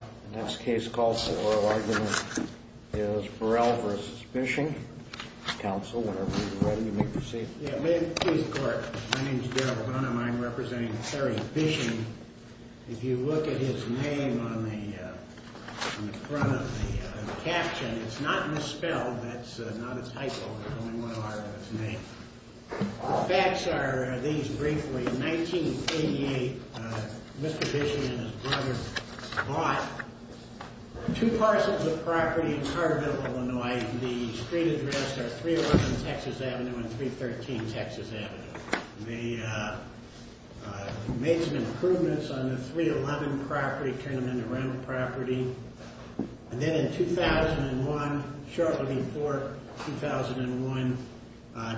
The next case called for oral argument is Burrell v. Bisching. Counsel, whenever you're ready, you may proceed. Yeah, may it please the Court. My name's Darrell Burnham. I'm representing Terry Bisching. If you look at his name on the front of the caption, it's not misspelled. That's not a typo. There's only one R in his name. The facts are these briefly. In 1988, Mr. Bisching and his brother bought two parcels of property in Carterville, Illinois. The street address are 311 Texas Avenue and 313 Texas Avenue. They made some improvements on the 311 property, turned it into rental property. Then in 2001, shortly before 2001,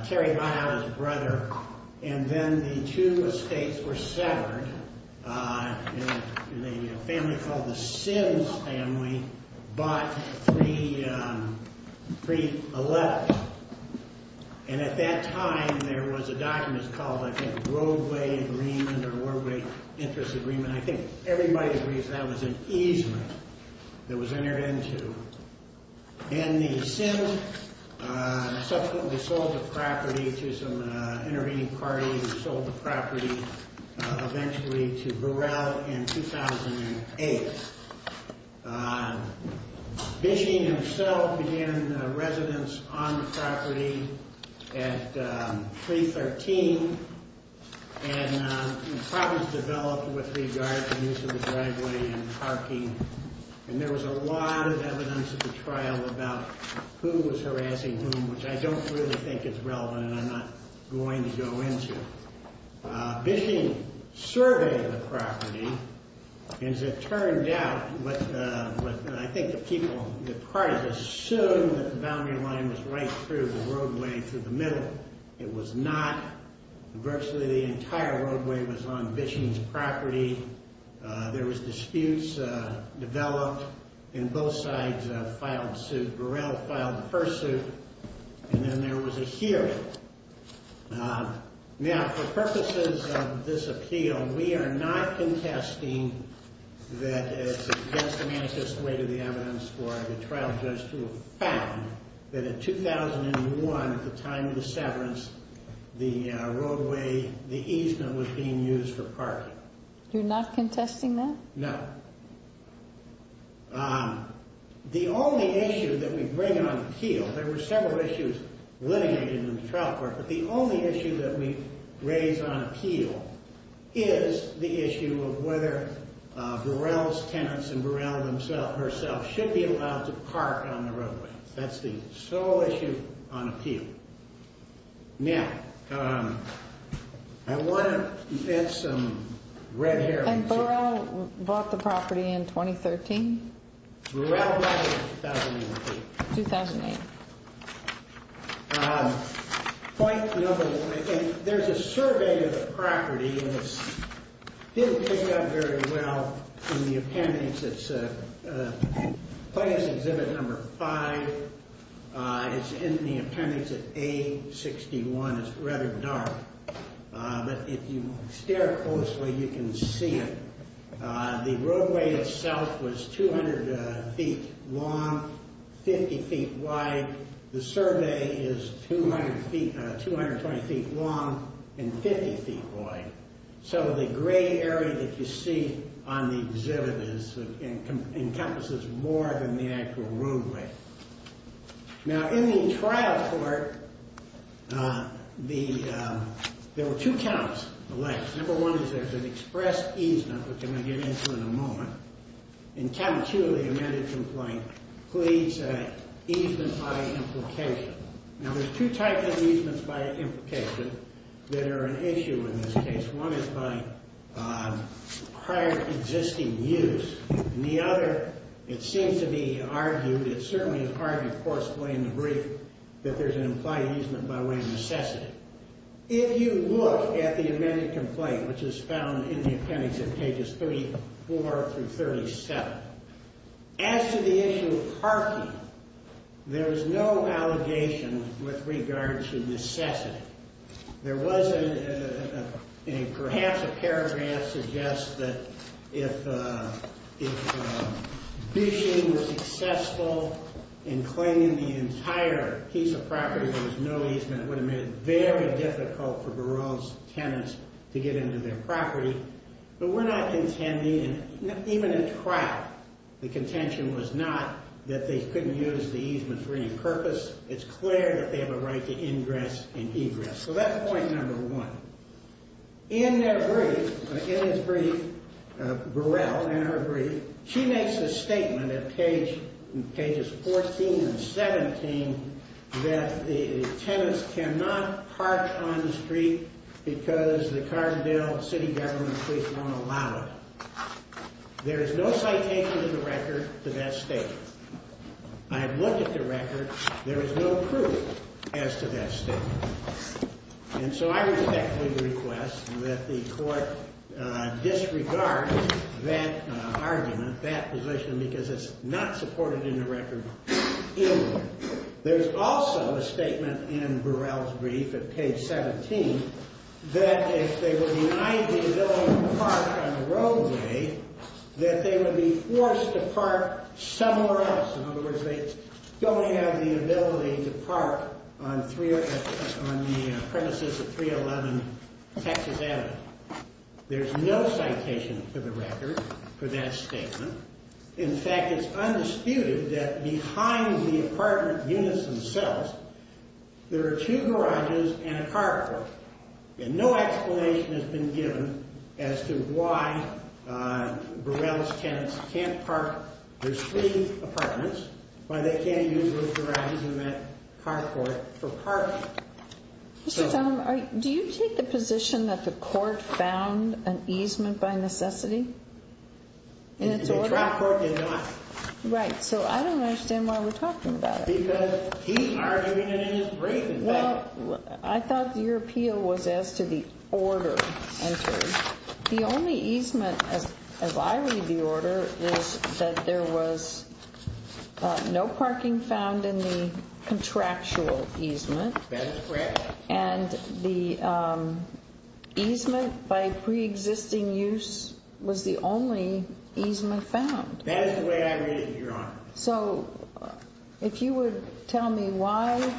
Terry hired his brother. And then the two estates were severed. A family called the Sims family bought 311. And at that time, there was a document called, I think, a roadway agreement or roadway interest agreement. And I think everybody agrees that was an easement that was entered into. And the Sims subsequently sold the property to some intervening parties and sold the property eventually to Burrell in 2008. Bisching himself began residence on the property at 313. And problems developed with regard to use of the driveway and parking. And there was a lot of evidence at the trial about who was harassing whom, which I don't really think is relevant and I'm not going to go into. Bisching surveyed the property. As it turned out, I think the people, the parties assumed that the boundary line was right through the roadway through the middle. It was not. Virtually the entire roadway was on Bisching's property. There was disputes developed. And both sides filed suit. Burrell filed the first suit. And then there was a hearing. Now, for purposes of this appeal, we are not contesting that it's against the manifest way to the evidence for the trial judge to have found that in 2001, at the time of the severance, the roadway, the easement was being used for parking. You're not contesting that? No. The only issue that we bring on appeal, there were several issues litigated in the trial court, but the only issue that we raise on appeal is the issue of whether Burrell's tenants and Burrell herself should be allowed to park on the roadway. That's the sole issue on appeal. Now, I want to get some red here. And Burrell bought the property in 2013? Burrell bought it in 2008. 2008. Point number one, there's a survey of the property, and it didn't pick up very well in the appendix. It's plaintiff's exhibit number five. It's in the appendix at A61. It's rather dark. But if you stare closely, you can see it. The roadway itself was 200 feet long, 50 feet wide. The survey is 220 feet long and 50 feet wide. So the gray area that you see on the exhibit encompasses more than the actual roadway. Now, in the trial court, there were two counts. Number one is there's an express easement, which I'm going to get into in a moment. And count two, the amended complaint, pleads easement by implication. Now, there's two types of easements by implication that are an issue in this case. One is by prior existing use. And the other, it seems to be argued, it certainly is argued, of course, plain and brief, that there's an implied easement by way of necessity. If you look at the amended complaint, which is found in the appendix at pages 34 through 37, as to the issue of parking, there is no allegation with regard to necessity. There was a, perhaps a paragraph suggests that if bishing was successful in claiming the entire piece of property, there was no easement. It would have made it very difficult for Burrell's tenants to get into their property. But we're not contending, even in trial, the contention was not that they couldn't use the easement for any purpose. It's clear that they have a right to ingress and egress. So that's point number one. In their brief, in his brief, Burrell, in her brief, she makes a statement at pages 14 and 17 that the tenants cannot park on the street because the Carbondale City Government Police won't allow it. There is no citation of the record to that statement. I have looked at the record. There is no proof as to that statement. And so I respectfully request that the court disregard that argument, that position, because it's not supported in the record anywhere. There's also a statement in Burrell's brief at page 17 that if they were denied the ability to park on the roadway, that they would be forced to park somewhere else. In other words, they don't have the ability to park on the premises of 311 Texas Avenue. There's no citation for the record for that statement. In fact, it's undisputed that behind the apartment units themselves, there are two garages and a car park. And no explanation has been given as to why Burrell's tenants can't park their street apartments, why they can't use those garages and that car park for parking. Mr. Talmadge, do you take the position that the court found an easement by necessity in its order? The trial court did not. Right, so I don't understand why we're talking about it. Well, I thought your appeal was as to the order entered. The only easement, as I read the order, is that there was no parking found in the contractual easement. That is correct. And the easement by preexisting use was the only easement found. That is the way I read it, Your Honor. So if you would tell me why.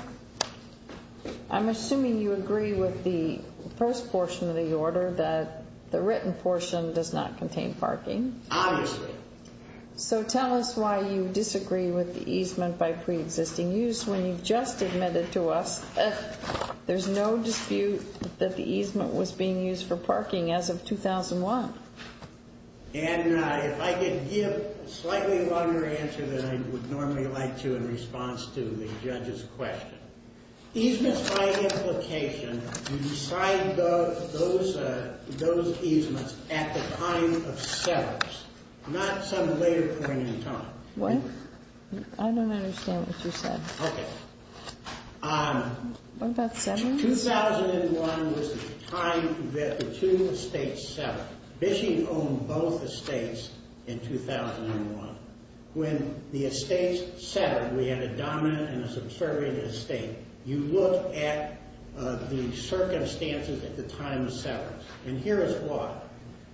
I'm assuming you agree with the first portion of the order that the written portion does not contain parking. Obviously. So tell us why you disagree with the easement by preexisting use when you've just admitted to us that there's no dispute that the easement was being used for parking as of 2001. And if I could give a slightly longer answer than I would normally like to in response to the judge's question. Easements by implication, you decide those easements at the time of severance, not some later point in time. What? I don't understand what you said. Okay. What about severance? 2001 was the time that the two estates severed. Bishing owned both estates in 2001. When the estates severed, we had a dominant and a subservient estate. You look at the circumstances at the time of severance, and here is why.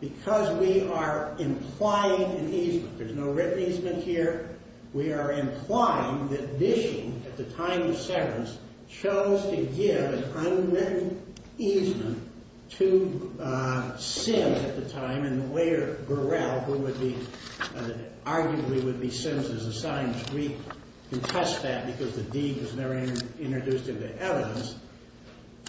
Because we are implying an easement. There's no written easement here. We are implying that Bishing, at the time of severance, chose to give an unwritten easement to Sims at the time, and Laird Burrell, who would be arguably would be Sims as assigned, we contest that because the deed was never introduced into evidence.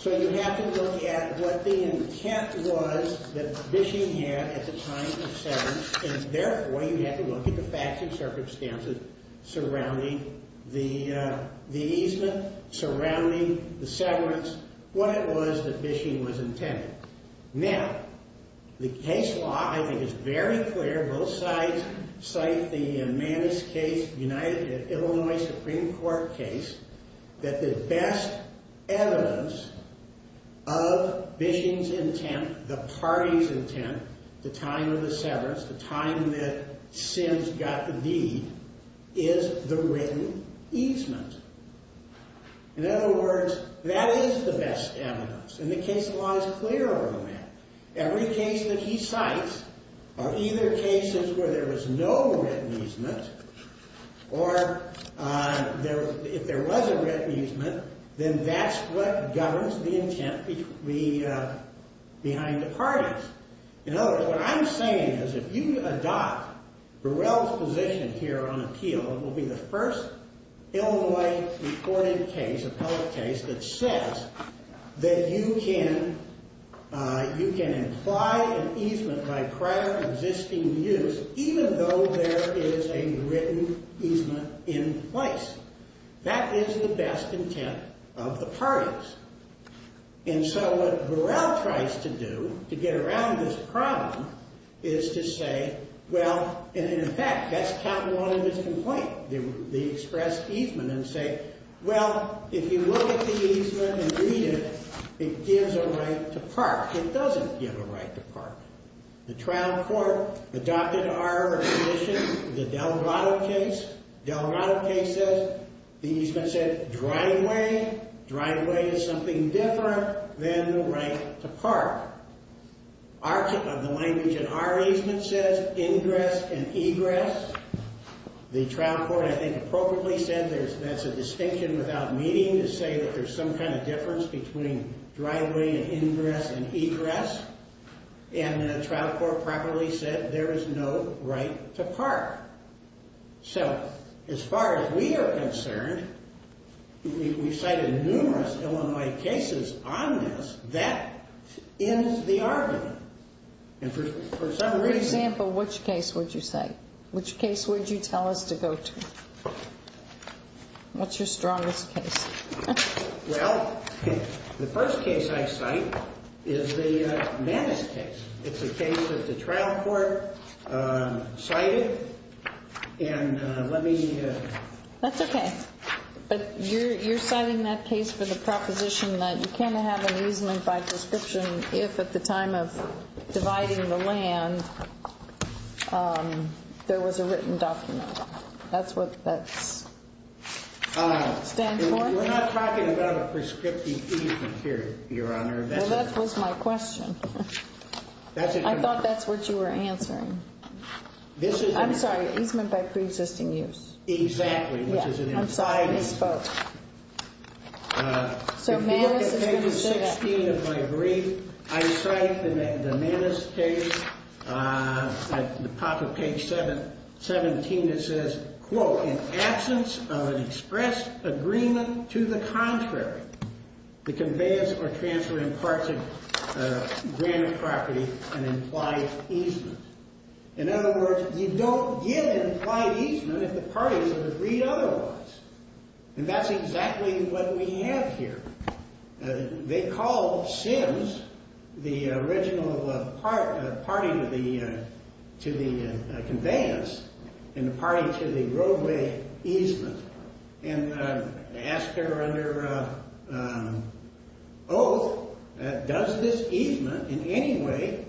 So you have to look at what the intent was that Bishing had at the time of severance, and, therefore, you have to look at the facts and circumstances surrounding the easement, surrounding the severance, what it was that Bishing was intending. Now, the case law, I think, is very clear. Both sides cite the Manus case, the Illinois Supreme Court case, that the best evidence of Bishing's intent, the party's intent, the time of the severance, the time that Sims got the deed, is the written easement. In other words, that is the best evidence, and the case law is clearer on that. Every case that he cites are either cases where there was no written easement or if there was a written easement, then that's what governs the intent behind the parties. In other words, what I'm saying is if you adopt Burrell's position here on appeal, it will be the first Illinois reported case, appellate case, that says that you can imply an easement by prior existing use even though there is a written easement in place. That is the best intent of the parties. And so what Burrell tries to do to get around this problem is to say, well, and in fact, that's count one of his complaints. They express easement and say, well, if you look at the easement and read it, it gives a right to park. It doesn't give a right to park. The trial court adopted our position, the Delgado case. Delgado case says the easement said driveway. Driveway is something different than the right to park. The language in our easement says ingress and egress. The trial court, I think, appropriately said that's a distinction without meaning to say that there's some kind of difference between driveway and ingress and egress. And the trial court properly said there is no right to park. So as far as we are concerned, we've cited numerous Illinois cases on this. That ends the argument. And for some reason – For example, which case would you cite? Which case would you tell us to go to? What's your strongest case? Well, the first case I cite is the Mannes case. It's a case that the trial court cited. And let me – That's okay. But you're citing that case for the proposition that you can't have an easement by description if at the time of dividing the land there was a written document. That's what that stands for? We're not talking about a prescriptive easement here, Your Honor. Well, that was my question. I thought that's what you were answering. I'm sorry, easement by preexisting use. Exactly. I'm sorry, I misspoke. So Mannes is going to say that. If you look at page 16 of my brief, I cite the Mannes case. At the top of page 17 it says, quote, In absence of an express agreement to the contrary, the conveyance or transfer imparts of granted property an implied easement. In other words, you don't give implied easement if the parties have agreed otherwise. And that's exactly what we have here. They call Sims the original party to the conveyance and the party to the roadway easement and ask her under oath, does this easement in any way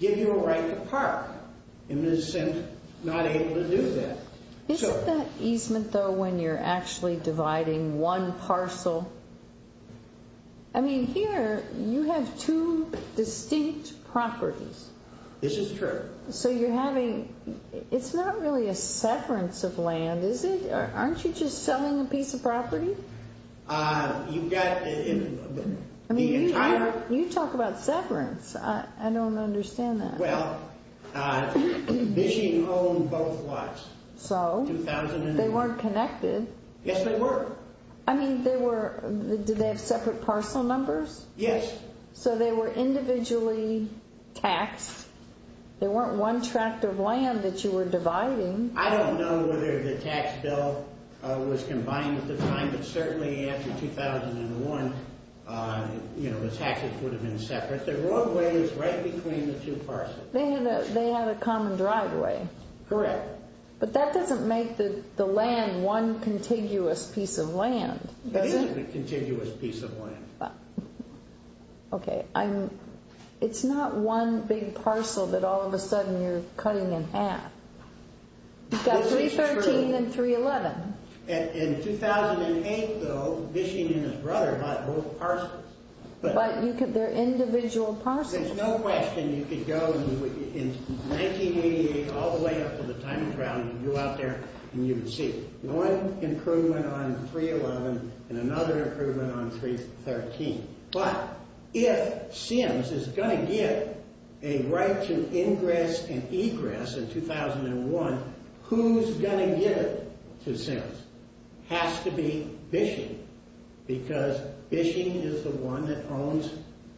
give you a right to park? And Ms. Sims is not able to do that. Isn't that easement, though, when you're actually dividing one parcel? I mean, here you have two distinct properties. This is true. So you're having, it's not really a severance of land, is it? Aren't you just selling a piece of property? You talk about severance. I don't understand that. Well, Bishing owned both lots. So? They weren't connected. Yes, they were. I mean, they were, did they have separate parcel numbers? Yes. So they were individually taxed. They weren't one tract of land that you were dividing. I don't know whether the tax bill was combined at the time, but certainly after 2001, you know, the taxes would have been separate. The roadway was right between the two parcels. They had a common driveway. Correct. But that doesn't make the land one contiguous piece of land, does it? It isn't a contiguous piece of land. Okay. It's not one big parcel that all of a sudden you're cutting in half. You've got 313 and 311. In 2008, though, Bishing and his brother bought both parcels. But they're individual parcels. There's no question. You could go in 1988 all the way up to the timing trial, and you go out there and you can see one improvement on 311 and another improvement on 313. But if Sims is going to get a right to ingress and egress in 2001, who's going to give it to Sims? It has to be Bishing because Bishing is the one that owns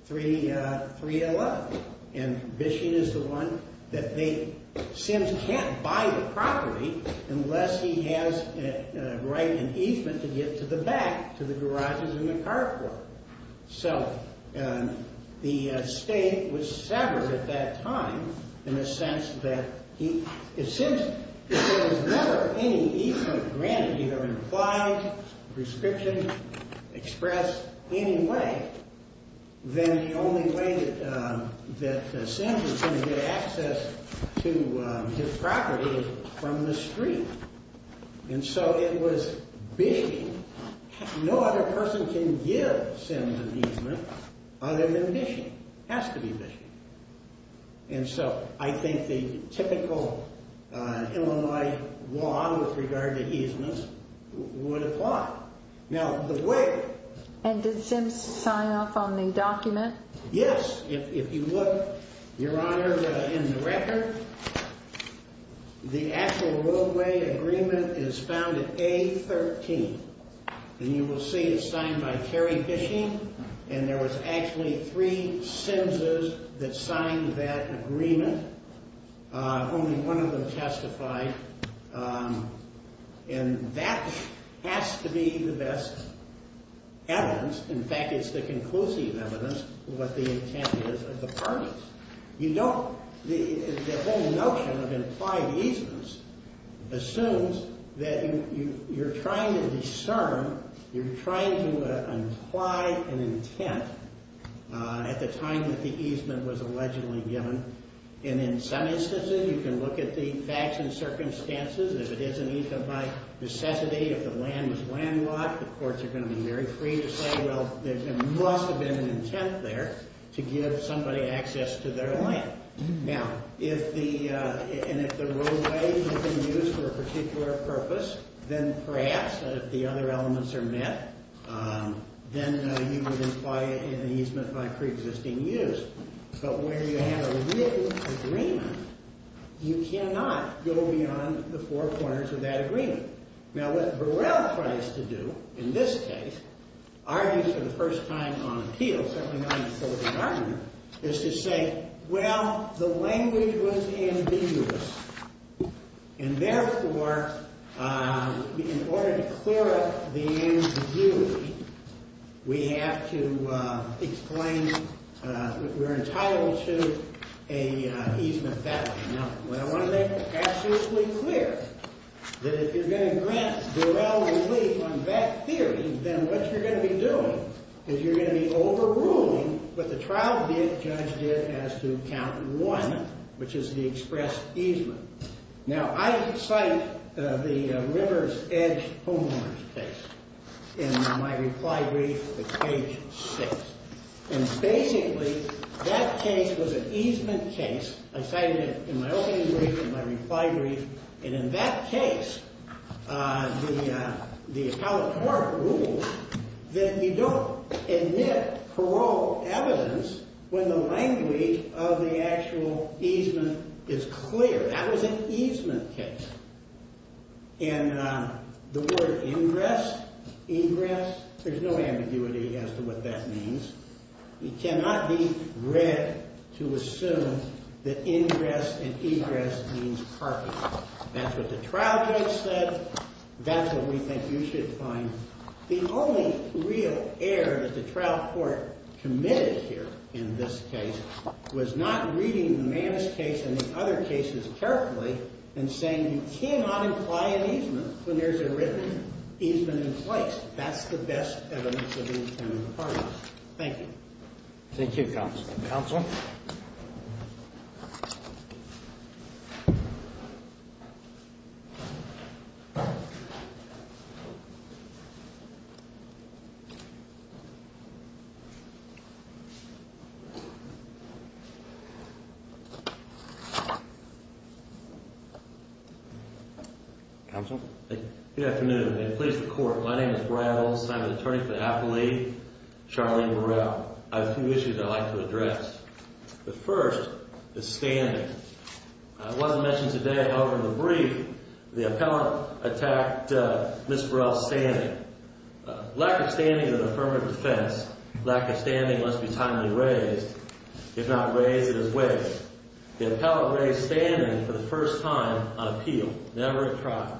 311, and Bishing is the one that they – Sims can't buy the property unless he has a right in easement to get to the back to the garages and the carport. So the estate was severed at that time in the sense that he – if you have an implied prescription expressed any way, then the only way that Sims is going to get access to his property is from the street. And so it was Bishing. No other person can give Sims an easement other than Bishing. It has to be Bishing. And so I think the typical Illinois law with regard to easements would apply. Now, the way – And did Sims sign off on the document? Yes. If you look, Your Honor, in the record, the actual roadway agreement is found at A13. And you will see it's signed by Terry Bishing, and there was actually three Simses that signed that agreement. Only one of them testified. And that has to be the best evidence. In fact, it's the conclusive evidence of what the intent is of the parties. You don't – The whole notion of implied easements assumes that you're trying to discern, you're trying to imply an intent at the time that the easement was allegedly given. And in some instances, you can look at the facts and circumstances. If it is an easement by necessity, if the land was landlocked, the courts are going to be very free to say, well, there must have been an intent there to give somebody access to their land. Now, if the – and if the roadway has been used for a particular purpose, then perhaps if the other elements are met, then you would imply an easement by preexisting use. But where you have a real agreement, you cannot go beyond the four corners of that agreement. Now, what Burrell tries to do in this case, argues for the first time on appeal, certainly not in the court of argument, is to say, well, the language was ambiguous. And therefore, in order to clear up the ambiguity, we have to explain that we're entitled to an easement that way. Now, what I want to make absolutely clear, that if you're going to grant Burrell relief on that theory, then what you're going to be doing is you're going to be overruling what the trial judge did as to count one, which is the expressed easement. Now, I cite the Rivers Edge homeowners case in my reply brief at page six. And basically, that case was an easement case. I cited it in my opening brief and my reply brief. And in that case, the appellate court ruled that you don't admit parole evidence when the language of the actual easement is clear. That was an easement case. And the word ingress, ingress, there's no ambiguity as to what that means. It cannot be read to assume that ingress and egress means parking. That's what the trial judge said. That's what we think you should find. The only real error that the trial court committed here in this case was not reading Mann's case and the other cases carefully and saying you cannot imply an easement when there's a written easement in place. That's the best evidence of intent of pardons. Thank you. Thank you, counsel. Counsel? Counsel? Good afternoon, and please record. My name is Brad Olson. I'm an attorney for the Appellate League, Charlene Burrell. I have a few issues I'd like to address. The first is standing. It wasn't mentioned today, however, in the brief, the appellant attacked Ms. Burrell's standing. Lack of standing is an affirmative defense. Lack of standing must be timely raised. If not raised, it is wasted. The appellant raised standing for the first time on appeal. Never a crime.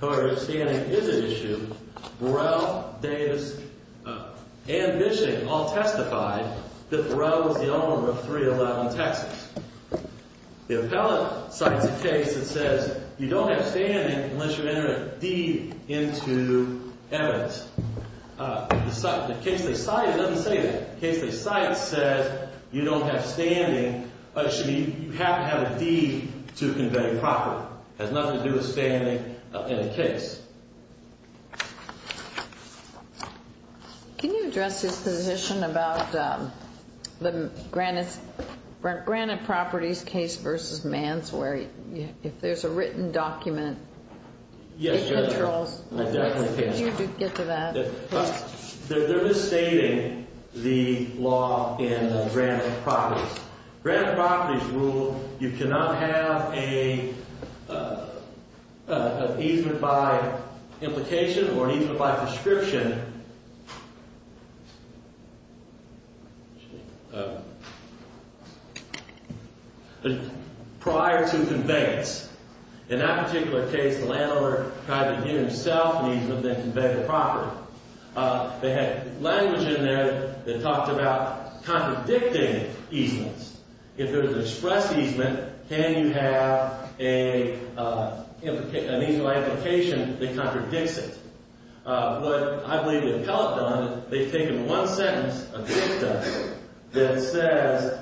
However, if standing is an issue, Burrell, Davis, and Bishing all testified that Burrell was the owner of 311 Texas. The appellant cites a case that says you don't have standing unless you enter a deed into evidence. The case they cite doesn't say that. The case they cite says you don't have standing. Actually, you have to have a deed to convey property. It has nothing to do with standing in the case. Can you address his position about the Granite Properties case versus Manswery? If there's a written document, it controls. I definitely can. Could you get to that, please? They're misstating the law in Granite Properties. Granite Properties ruled you cannot have an easement by implication or an easement by prescription prior to conveyance. In that particular case, the landlord tried to give himself an easement, then convey the property. They had language in there that talked about contradicting easements. If there's an express easement, can you have an easement by implication that contradicts it? What I believe the appellant done is they've taken one sentence of dicta that says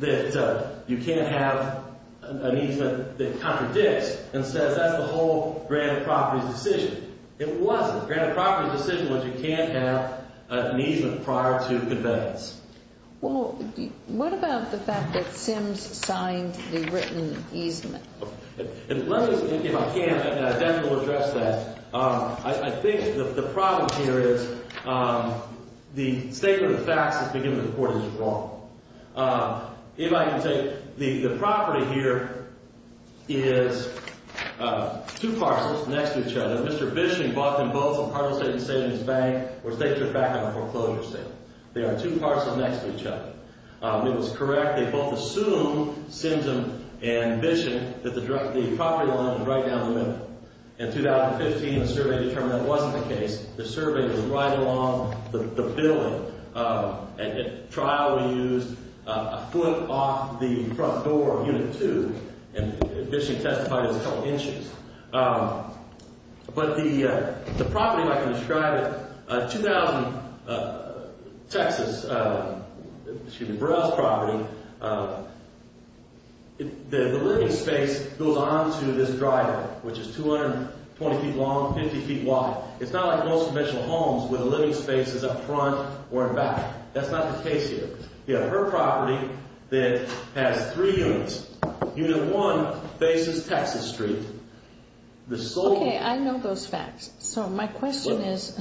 that you can't have an easement that contradicts and says that's the whole Granite Properties decision. It wasn't. Granite Properties' decision was you can't have an easement prior to conveyance. Well, what about the fact that Sims signed the written easement? Let me, if I can, definitely address that. I think the problem here is the statement of facts that's been given to the court is wrong. If I can take, the property here is two parcels next to each other. Mr. Bishon bought them both on part of a state savings bank or state trip back on a foreclosure sale. They are two parcels next to each other. It was correct. They both assumed, Sims and Bishon, that the property line was right down the middle. In 2015, the survey determined that wasn't the case. The survey was right along the building. At trial, we used a foot off the front door of Unit 2, and Bishon testified it was a couple inches. But the property, if I can describe it, 2000 Texas, excuse me, Burrell's property, the living space goes on to this driveway, which is 220 feet long, 50 feet wide. It's not like most conventional homes where the living space is up front or in back. That's not the case here. You have her property that has three units. Unit 1 faces Texas Street. Okay, I know those facts. So my question is,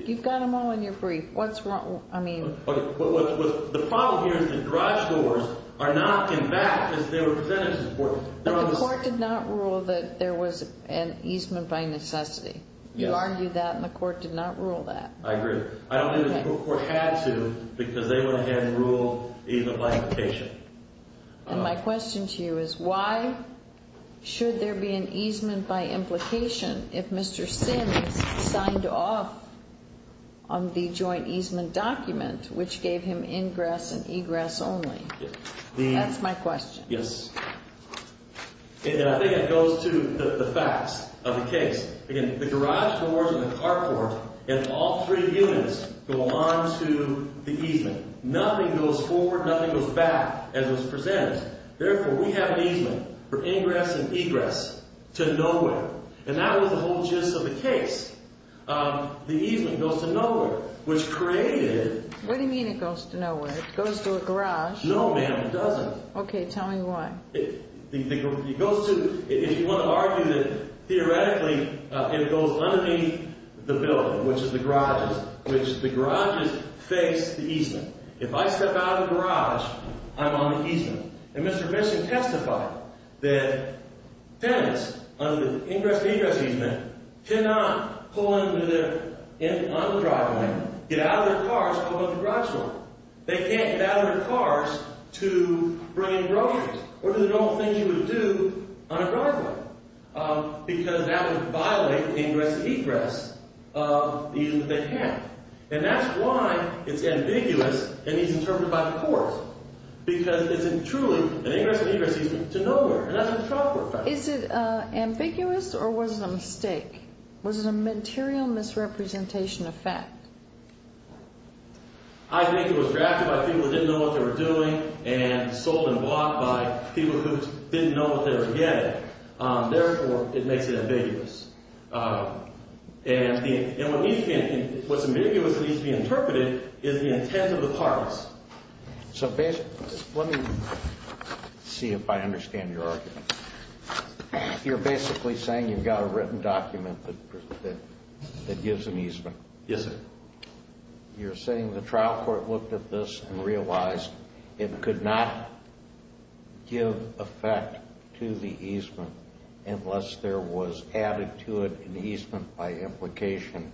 you've got them all in your brief. What's wrong? The problem here is the garage doors are not in back because they were presented to the court. But the court did not rule that there was an easement by necessity. You argued that, and the court did not rule that. I agree. I don't think the court had to because they would have had a rule even by implication. And my question to you is, why should there be an easement by implication if Mr. Simmons signed off on the joint easement document, which gave him ingress and egress only? That's my question. Yes. And I think it goes to the facts of the case. Again, the garage doors and the carport and all three units go on to the easement. Nothing goes forward. Nothing goes back as was presented. Therefore, we have an easement for ingress and egress to nowhere. And that was the whole gist of the case. The easement goes to nowhere, which created— What do you mean it goes to nowhere? It goes to a garage. No, ma'am, it doesn't. Okay, tell me why. It goes to—if you want to argue that theoretically it goes underneath the building, which is the garages, which the garages face the easement. If I step out of the garage, I'm on the easement. And Mr. Bishop testified that tenants under the ingress and egress easement cannot pull into their—on the driveway, get out of their cars, pull into the garage door. They can't get out of their cars to bring in groceries or do the normal things you would do on a driveway because that would violate the ingress and egress easement they have. And that's why it's ambiguous and needs to be interpreted by the courts because it's truly an ingress and egress easement to nowhere. And that's what the trial court found. Is it ambiguous or was it a mistake? Was it a material misrepresentation of fact? I think it was drafted by people who didn't know what they were doing and sold and bought by people who didn't know what they were getting. Therefore, it makes it ambiguous. And what's ambiguous and needs to be interpreted is the intent of the parties. So basically—let me see if I understand your argument. You're basically saying you've got a written document that gives an easement. Yes, sir. You're saying the trial court looked at this and realized it could not give effect to the easement unless there was added to it an easement by implication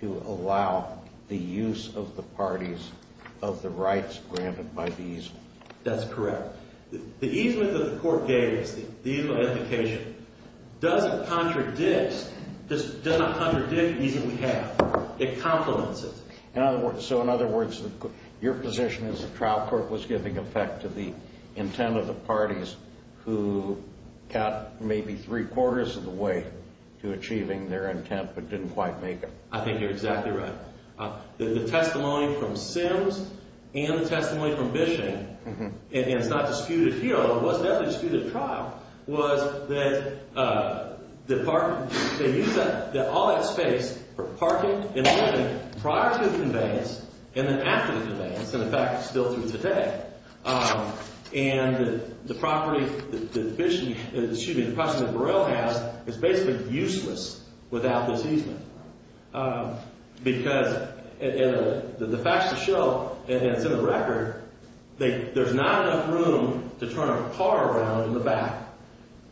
to allow the use of the parties of the rights granted by the easement. That's correct. The easement that the court gave is the easement of implication. It doesn't contradict the easement we have. It complements it. So in other words, your position is the trial court was giving effect to the intent of the parties who got maybe three-quarters of the way to achieving their intent but didn't quite make it. I think you're exactly right. The testimony from Sims and the testimony from Bishing—and it's not disputed here, but it was definitely disputed at trial—was that all that space for parking and living prior to the conveyance and then after the conveyance and, in fact, still through today. And the property that Bishing—excuse me, the property that Burrell has is basically useless without this easement because the facts show, and it's in the record, there's not enough room to turn a car around in the back.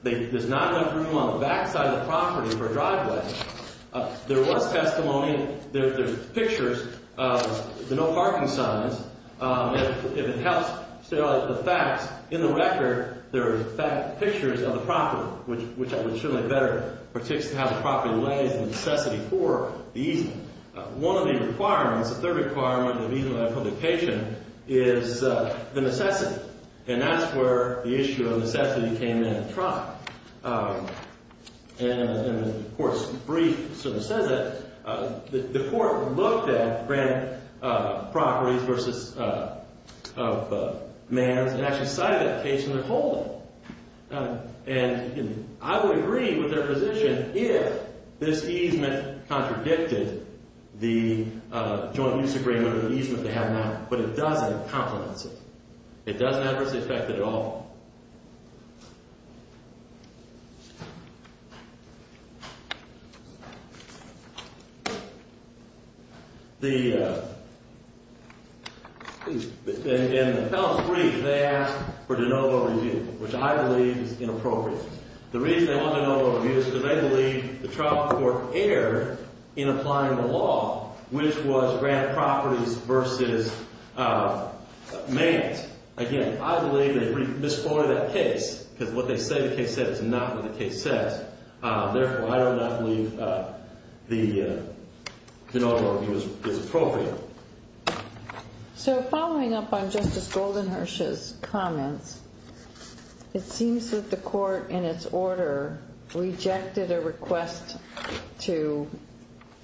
There's not enough room on the back side of the property for a driveway. There was testimony. There's pictures of the no-parking signs. If it helps to show the facts, in the record, there are pictures of the property, which I would certainly better participate in how the property lays in necessity for the easement. One of the requirements, the third requirement, of easement of that publication is the necessity, and that's where the issue of necessity came in at trial. And the court's brief sort of says it. The court looked at grand properties versus mans and actually cited that case in the holding. And I would agree with their position if this easement contradicted the joint use agreement or the easement they have now, but it doesn't complement it. It doesn't adversely affect it at all. In the appellant's brief, they asked for de novo review, which I believe is inappropriate. The reason they want de novo review is because they believe the trial court erred in applying the law, which was grand properties versus mans. Again, I believe they misquoted that case because what they say the case said is not what the case said. Therefore, I do not believe the de novo review is appropriate. So following up on Justice Goldenhirsch's comments, it seems that the court in its order rejected a request to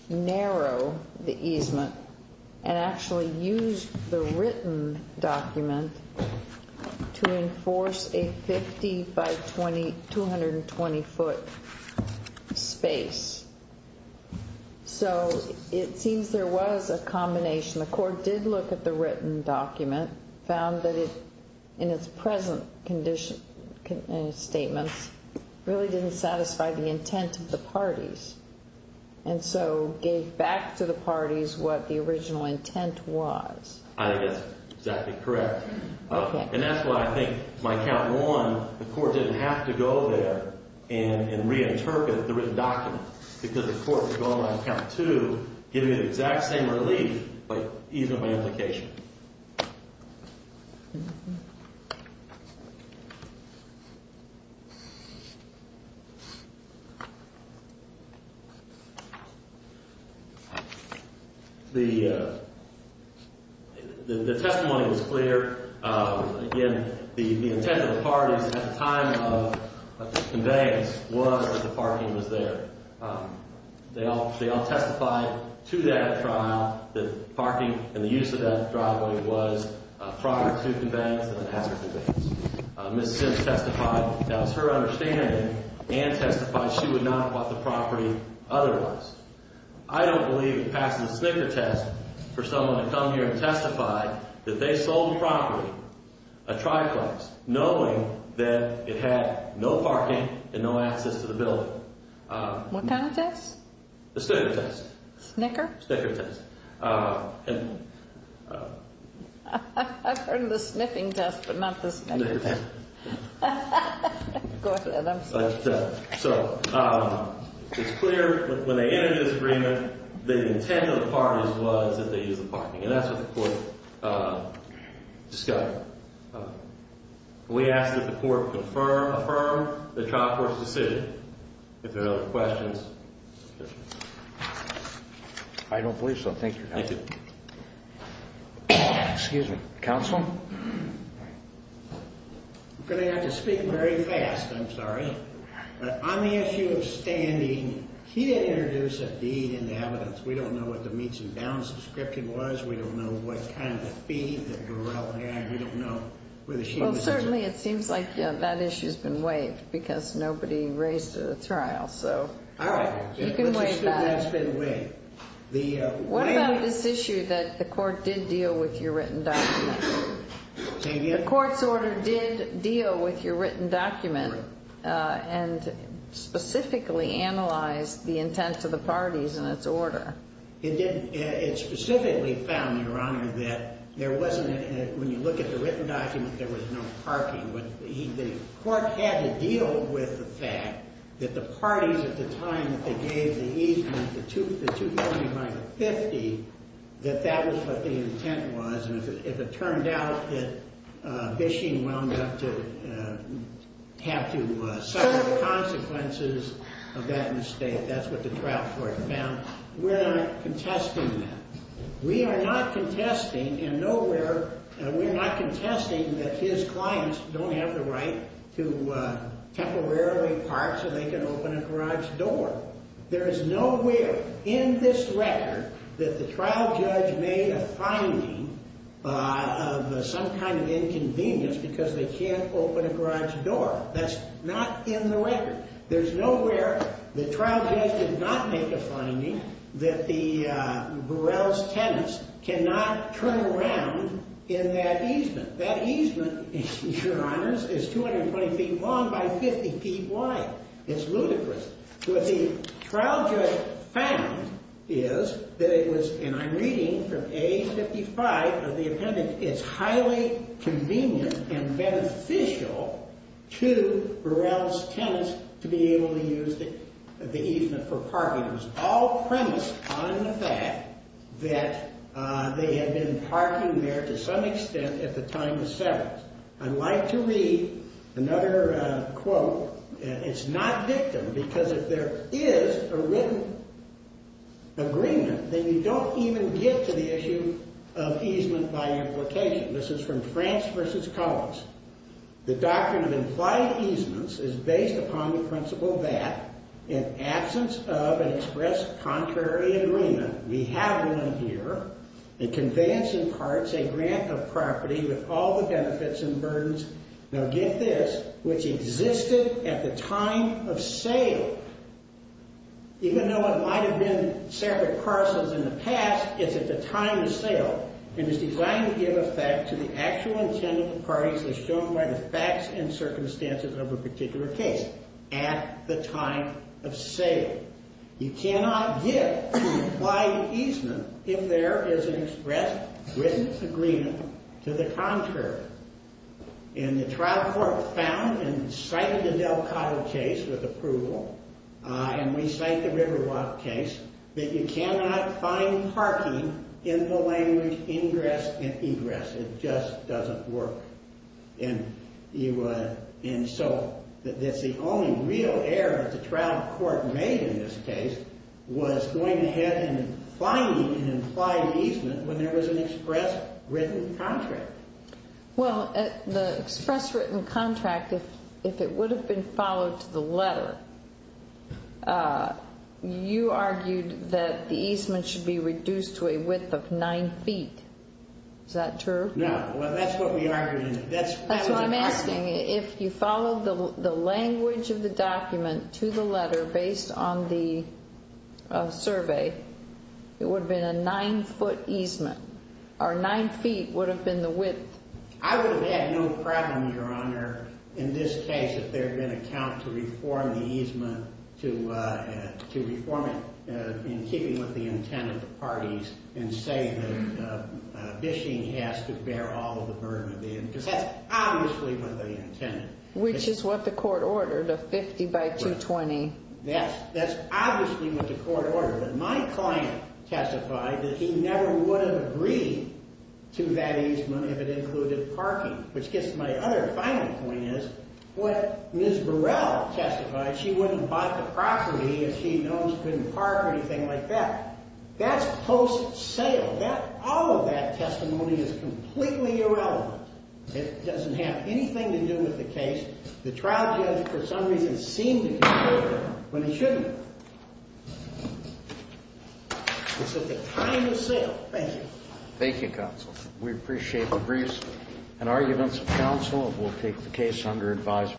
narrow the easement and actually used the written document to enforce a 50 by 220 foot space. So it seems there was a combination. The court did look at the written document, found that it, in its present statements, really didn't satisfy the intent of the parties and so gave back to the parties what the original intent was. I think that's exactly correct. Okay. And that's why I think my count one, the court didn't have to go there and reinterpret the written document because the court was going on count two, giving the exact same relief by easement by implication. The testimony was clear. Again, the intent of the parties at the time of the conveyance was that the parking was there. They all testified to that trial that parking and the use of that driveway was prior to conveyance and after conveyance. Ms. Sims testified that was her understanding and testified she would not have bought the property otherwise. I don't believe it passes the snicker test for someone to come here and testify that they sold the property, a triplex, knowing that it had no parking and no access to the building. What kind of test? The snicker test. Snicker? Snicker test. I've heard of the sniffing test but not the snicker test. Go ahead. I'm sorry. So it's clear when they entered this agreement, the intent of the parties was that they used the parking. And that's what the court discovered. We ask that the court affirm the trial court's decision. If there are no other questions. I don't believe so. Thank you, counsel. Thank you. Excuse me. Counsel? I'm going to have to speak very fast. I'm sorry. On the issue of standing, he didn't introduce a deed in the evidence. We don't know what the meets and bounds description was. We don't know what kind of fee that Darrell had. We don't know whether she was injured. Well, certainly it seems like that issue's been waived because nobody raised it at the trial. All right. You can waive that. Let's assume that's been waived. What about this issue that the court did deal with your written document? Say again? The court's order did deal with your written document and specifically analyzed the intent to the parties in its order. It didn't. It specifically found, Your Honor, that when you look at the written document, there was no parking. The court had to deal with the fact that the parties at the time that they gave the easement, the $2 million by the 50, that that was what the intent was. And if it turned out that Bishing wound up to have to suffer the consequences of that mistake, that's what the trial court found. We're not contesting that. We are not contesting in nowhere, we're not contesting that his clients don't have the right to temporarily park so they can open a garage door. There is nowhere in this record that the trial judge made a finding of some kind of inconvenience because they can't open a garage door. That's not in the record. There's nowhere the trial judge did not make a finding that Burrell's tenants cannot turn around in that easement. That easement, Your Honors, is 220 feet long by 50 feet wide. It's ludicrous. What the trial judge found is that it was, and I'm reading from A55 of the appendix, it's highly convenient and beneficial to Burrell's tenants to be able to use the easement for parking. It was all premised on the fact that they had been parking there to some extent at the time of settlement. I'd like to read another quote. It's not victim because if there is a written agreement, then you don't even get to the issue of easement by implication. This is from France v. Collins. The doctrine of implied easements is based upon the principle that in absence of an express contrary agreement, we have one here, a conveyance in parts, a grant of property with all the benefits and burdens, now get this, which existed at the time of sale. Even though it might have been separate parcels in the past, it's at the time of sale. It is designed to give effect to the actual intent of the parties as shown by the facts and circumstances of a particular case. At the time of sale. You cannot get to implied easement if there is an express written agreement to the contrary. And the trial court found and cited the Del Cotto case with approval, and we cite the Riverwalk case, that you cannot find parking in the language ingress and egress. It just doesn't work. And so that's the only real error that the trial court made in this case, was going ahead and finding an implied easement when there was an express written contract. Well, the express written contract, if it would have been followed to the letter, you argued that the easement should be reduced to a width of nine feet. Is that true? No. Well, that's what we argued. That's what I'm asking. If you followed the language of the document to the letter based on the survey, it would have been a nine foot easement, or nine feet would have been the width. I would have had no problem, Your Honor, in this case, if there had been a count to reform the easement to reform it in keeping with the intent of the parties and say that Bishing has to bear all of the burden of the end, because that's obviously what they intended. Which is what the court ordered, a 50 by 220. Yes, that's obviously what the court ordered. But my client testified that he never would have agreed to that easement if it included parking, which gets to my other final point, is what Ms. Burrell testified, she wouldn't have bought the property if she knows it couldn't park or anything like that. That's post-sale. All of that testimony is completely irrelevant. It doesn't have anything to do with the case. The trial judge, for some reason, seemed to be perfect when he shouldn't have. It's at the time of sale. Thank you. Thank you, Counsel. We appreciate the briefs and arguments of counsel. We'll take the case under advisory.